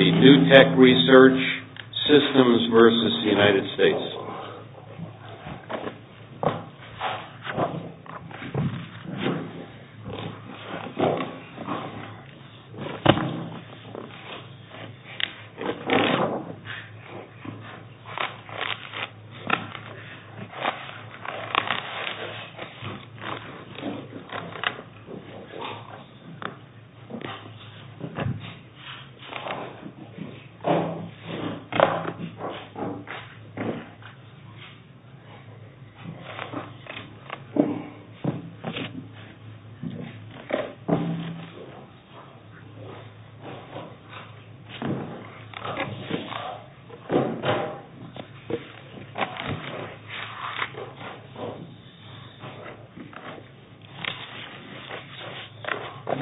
New Tech Research Systems v. United States.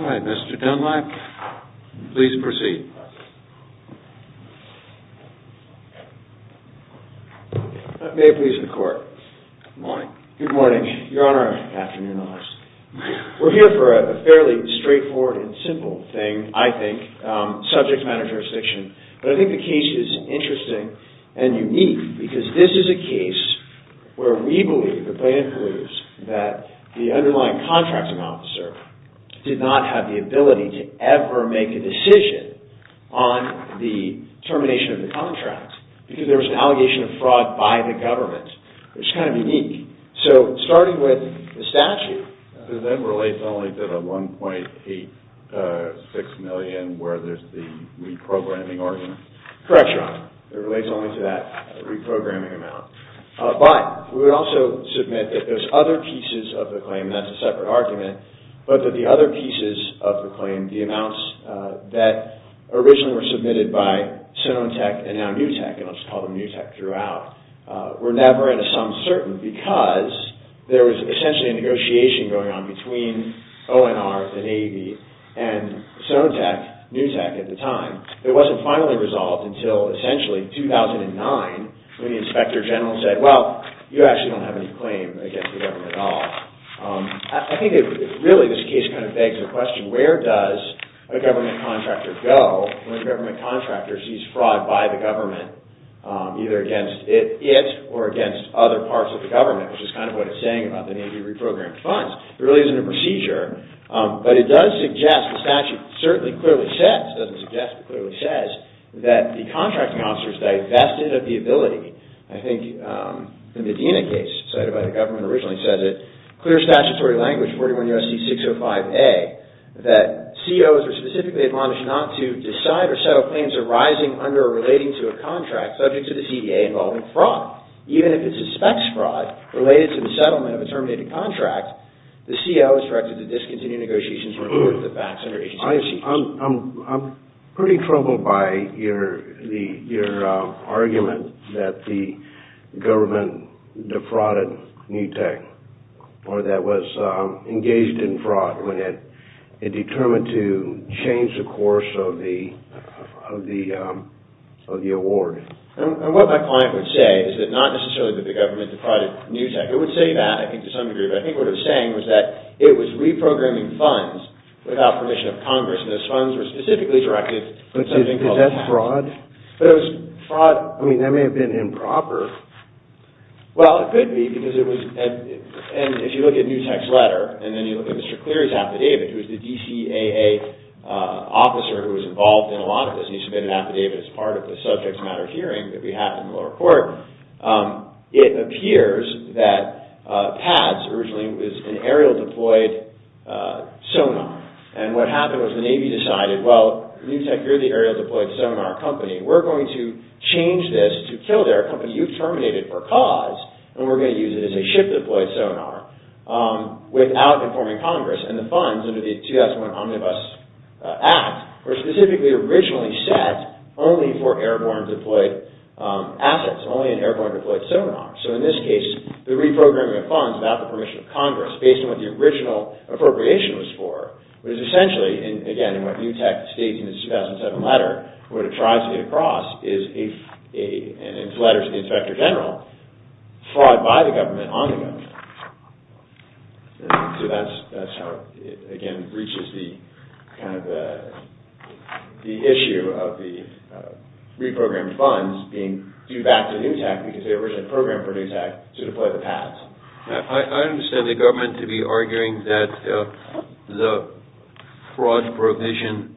All right, Mr. Dunlap, please proceed. May it please the Court, good morning, good morning, your Honor, afternoon, we're here for a fairly straightforward and simple thing, I think, subject matter jurisdiction, but I think the case is interesting and unique because this is a case where we believe, the plaintiff believes, that the underlying contracting officer did not have the ability to ever make a decision on the termination of the contract because there was an allegation of fraud by the government. It's kind of unique. So starting with the statute, it then relates only to the $1.86 million where there's the reprogramming order. Correct, your Honor, it relates only to that reprogramming amount, but we would also submit that there's other pieces of the claim, that's a separate argument, but that the other pieces of the claim, the amounts that originally were submitted by Sonentech and now New Tech, and I'll just call them New Tech throughout, were never at a sum certain because there was essentially a negotiation going on between ONR, the Navy, and Sonentech, New Tech at the time. It wasn't finally resolved until essentially 2009 when the Inspector General said, well, you actually don't have any claim against the government at all. I think really this case kind of begs the question, where does a government contractor go when a government contractor sees fraud by the government, either against it or against other parts of the government, which is kind of what it's saying about the Navy reprogrammed funds. It really isn't a procedure, but it does suggest, the statute certainly clearly says, doesn't suggest, but clearly says, that the contracting officer's divested of the ability. I think the Medina case, cited by the government originally, says it, clear statutory language, 41 U.S.C. 605A, that COs are specifically admonished not to decide or settle plans arising under or relating to a contract subject to the CDA involving fraud, even if it suspects fraud related to the settlement of a terminated contract, the CO is directed to discontinue negotiations or report to the facts under agency procedures. I'm pretty troubled by your argument that the government defrauded NewTek, or that it was engaged in fraud when it determined to change the course of the award. What my client would say is that not necessarily that the government defrauded NewTek, it would say that, I think to some degree, but I think what it was saying was that it was reprogramming funds without permission of Congress, and those funds were specifically directed to something called PADS. But is that fraud? But it was fraud, I mean, that may have been improper. Well, it could be, because it was, and if you look at NewTek's letter, and then you look at Mr. Cleary's affidavit, who was the DCAA officer who was involved in a lot of this, and he submitted an affidavit as part of the subject matter hearing that we had in the lower court, it appears that PADS originally was an aerial-deployed sonar, and what happened was the Navy decided, well, NewTek, you're the aerial-deployed sonar company, we're going to change this to Kildare, a company you terminated for cause, and we're going to use it as a ship-deployed sonar, without informing Congress. And the funds under the 2001 Omnibus Act were specifically originally set only for assets, only an aerial-deployed sonar. So in this case, the reprogramming of funds without the permission of Congress, based on what the original appropriation was for, was essentially, and again, in what NewTek states in the 2007 letter, what it tries to get across is a, and it's letters to the Inspector General, fraud by the government on the government. So that's how, again, it breaches the kind of the issue of the reprogrammed funds being due back to NewTek, because they originally programmed for NewTek to deploy the PADS. I understand the government to be arguing that the fraud provision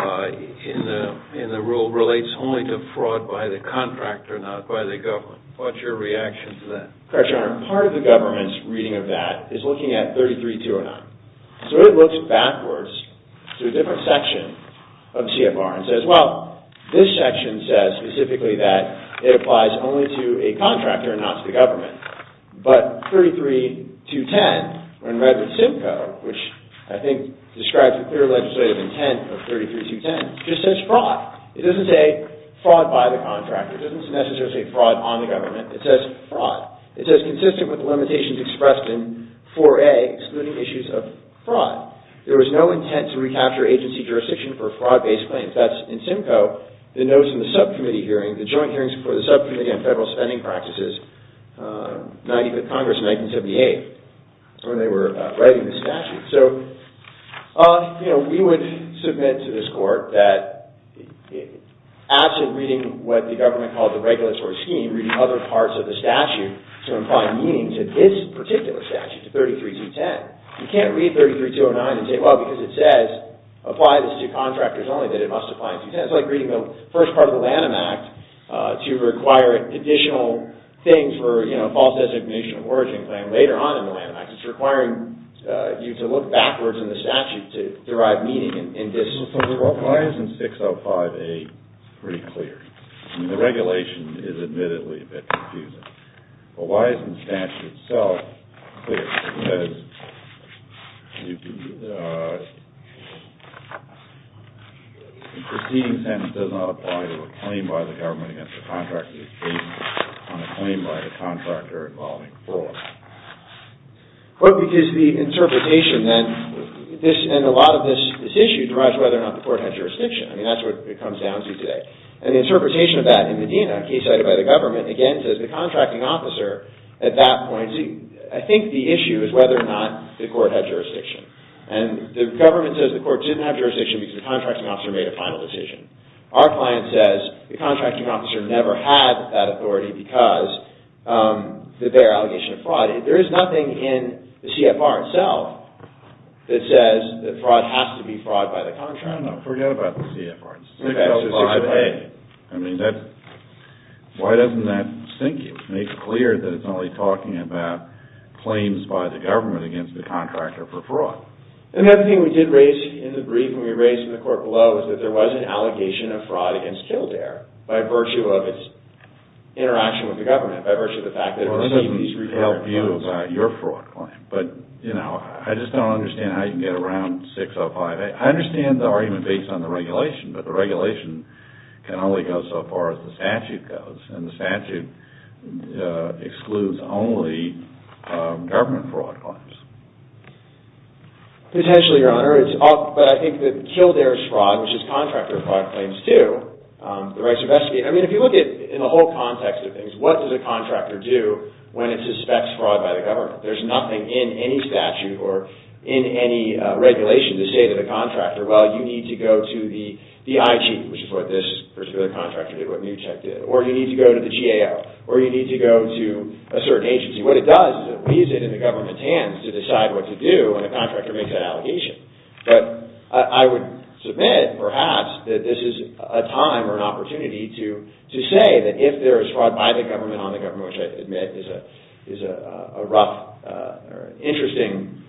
in the rule relates only to fraud by the contractor, not by the government. What's your reaction to that? Correct, Your Honor. Part of the government's reading of that is looking at 33-209. So it looks backwards to a different section of CFR and says, well, this section says specifically that it applies only to a contractor and not to the government. But 33-210, when read with Simcoe, which I think describes the clear legislative intent of 33-210, just says fraud. It doesn't say fraud by the contractor. It doesn't necessarily say fraud on the government. It says fraud. It says consistent with the limitations expressed in 4A, excluding issues of fraud. There was no intent to recapture agency jurisdiction for fraud-based claims. That's in Simcoe. The notes in the subcommittee hearing, the joint hearings for the subcommittee on federal spending practices, Congress in 1978, when they were writing the statute. So we would submit to this court that absent reading what the government called the regulatory scheme, reading other parts of the statute to imply meaning to this particular statute, to 33-210. You can't read 33-209 and say, well, because it says apply this to contractors only, that it must apply in 310. It's like reading the first part of the Lanham Act to require additional things for false designation of origin claim later on in the Lanham Act. It's requiring you to look backwards in the statute to derive meaning in this. So why isn't 605A pretty clear? I mean, the regulation is admittedly a bit confusing. But why isn't the statute itself clear? Because the proceeding sentence does not apply to a claim by the government against a contractor. It's based on a claim by the contractor involving fraud. Well, because the interpretation then, and a lot of this issue derives whether or not the court had jurisdiction. I mean, that's what it comes down to today. And the interpretation of that in Medina, case cited by the government, again, says the contracting officer at that point, I think the issue is whether or not the court had jurisdiction. And the government says the court didn't have jurisdiction because the contracting officer made a final decision. Our client says the contracting officer never had that authority because of their allegation of fraud. There is nothing in the CFR itself that says that fraud has to be fraud by the contractor. No, no, forget about the CFR. 605A. I mean, why doesn't that sink you? Make it clear that it's only talking about claims by the government against the contractor for fraud. And the other thing we did raise in the brief and we raised in the court below is that there was an allegation of fraud against Kildare by virtue of its interaction with the government, by virtue of the fact that it received these required claims. Well, that doesn't help you about your fraud claim. But, you know, I just don't understand how you can get around 605A. I understand the argument based on the regulation, but the regulation can only go so far as the statute goes. And the statute excludes only government fraud claims. Potentially, Your Honor. But I think that Kildare's fraud, which is contractor fraud claims too, the right to investigate. I mean, if you look at it in the whole context of things, what does a contractor do when it suspects fraud by the government? There's nothing in any statute or in any regulation to say to the contractor, well, you need to go to the IG, which is what this particular contractor did, what Newcheck did. Or you need to go to the GAO. Or you need to go to a certain agency. What it does is it leaves it in the government's hands to decide what to do when the contractor makes an allegation. But I would submit, perhaps, that this is a time or an opportunity to say that if there is fraud by the government on the government, which I admit is a rough or interesting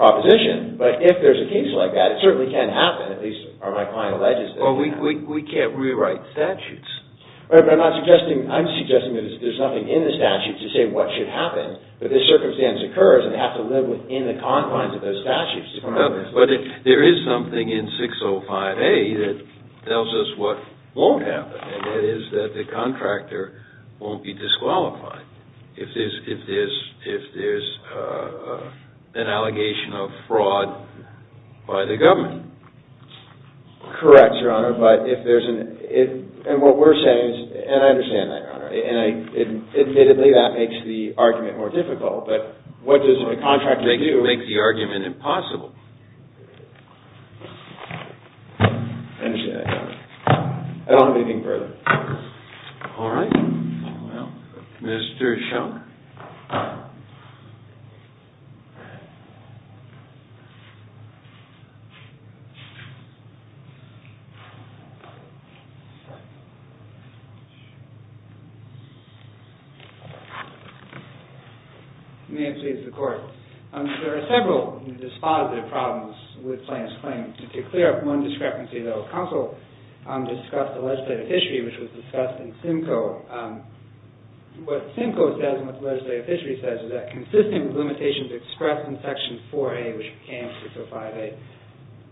proposition, but if there's a case like that, it certainly can happen, at least are my client alleges that it can. Well, we can't rewrite statutes. Right, but I'm not suggesting, I'm suggesting that there's nothing in the statute to say what should happen, but the circumstance occurs and they have to live within the confines of those statutes. But there is something in 605A that tells us what won't happen, and that is that the contractor won't be disqualified. If there's an allegation of fraud by the government. Correct, Your Honor. But if there's an, and what we're saying is, and I understand that, Your Honor, and admittedly that makes the argument more difficult, but what does the contractor do? It makes the argument impossible. I understand that, Your Honor. I don't have anything further. All right. Well, Mr. Schellner. May it please the Court. There are several dispositive problems with Plaintiff's Claims. To clear up one discrepancy, though, the legislative history, which was discussed in Simcoe, what Simcoe says and what the legislative history says is that consistent with limitations expressed in Section 4A, which became 605A,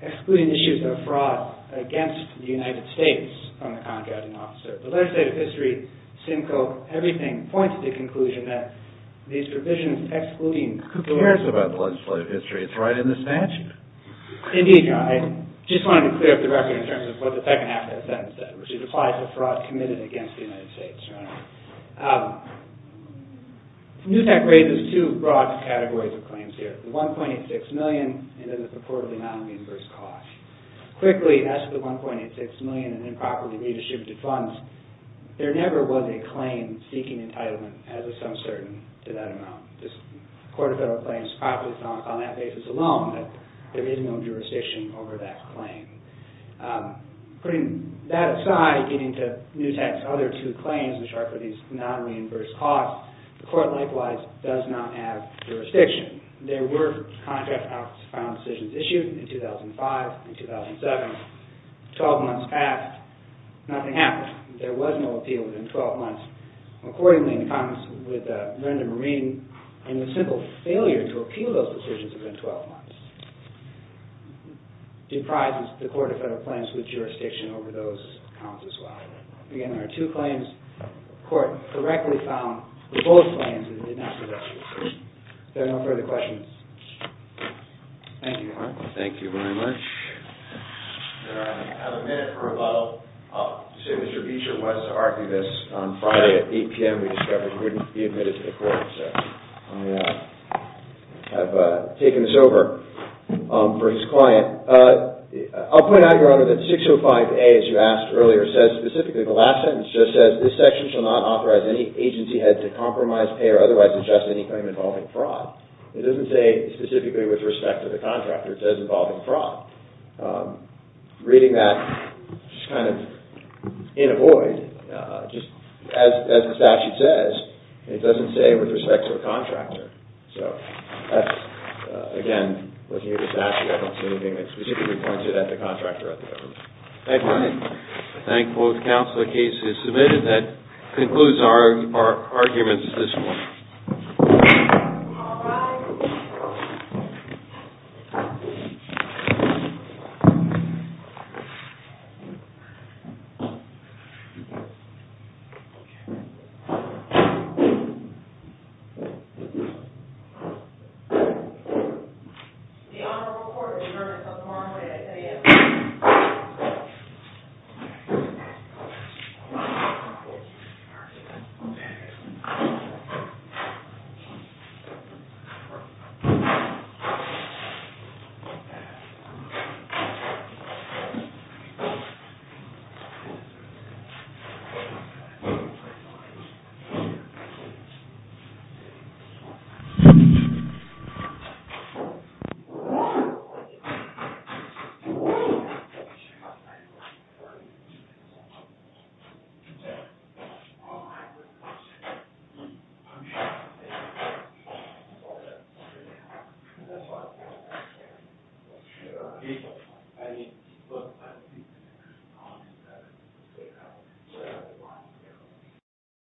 excluding issues of fraud against the United States from the contracting officer. The legislative history, Simcoe, everything points to the conclusion that these provisions excluding... Who cares about the legislative history? It's right in the statute. Indeed, Your Honor. I just wanted to clear up the record in terms of what the second half of that sentence said, which is applied to fraud committed against the United States, Your Honor. NUSAC raises two broad categories of claims here. The $1.86 million and then the purportedly non-reimbursed cost. Quickly, as to the $1.86 million in improperly redistributed funds, there never was a claim seeking entitlement as of some certain to that amount. The Court of Federal Claims profits on that basis alone, but there is no jurisdiction over that claim. Putting that aside, getting to NUSAC's other two claims, which are for these non-reimbursed costs, the Court likewise does not have jurisdiction. There were contract office final decisions issued in 2005 and 2007. 12 months passed, nothing happened. There was no appeal within 12 months. Accordingly, in the comments with Brenda Marine, in the simple failure to appeal those decisions within 12 months. Deprives the Court of Federal Claims with jurisdiction over those counts as well. Again, there are two claims. The Court correctly found both claims in the next election. Is there no further questions? Thank you, Your Honor. Thank you very much. I have a minute for a bottle. Mr. Beecher was an archivist. On Friday at 8 p.m. we discovered he wouldn't be admitted to the court. Oh, yeah. I've taken this over for his client. I'll point out, Your Honor, that 605A, as you asked earlier, says specifically, the last sentence just says, this section shall not authorize any agency head to compromise, pay, or otherwise adjust any claim involving fraud. It doesn't say specifically with respect to the contractor. It says involving fraud. Reading that, it's kind of in a void. Just as the statute says, it doesn't say with respect to a contractor. Again, looking at the statute, I don't see anything that specifically points it at the contractor or the government. Thank you. Thank both counsel. The case is submitted. That concludes our arguments at this point. All rise. The Honorable Court has adjourned until tomorrow morning at 8 a.m. Thank you.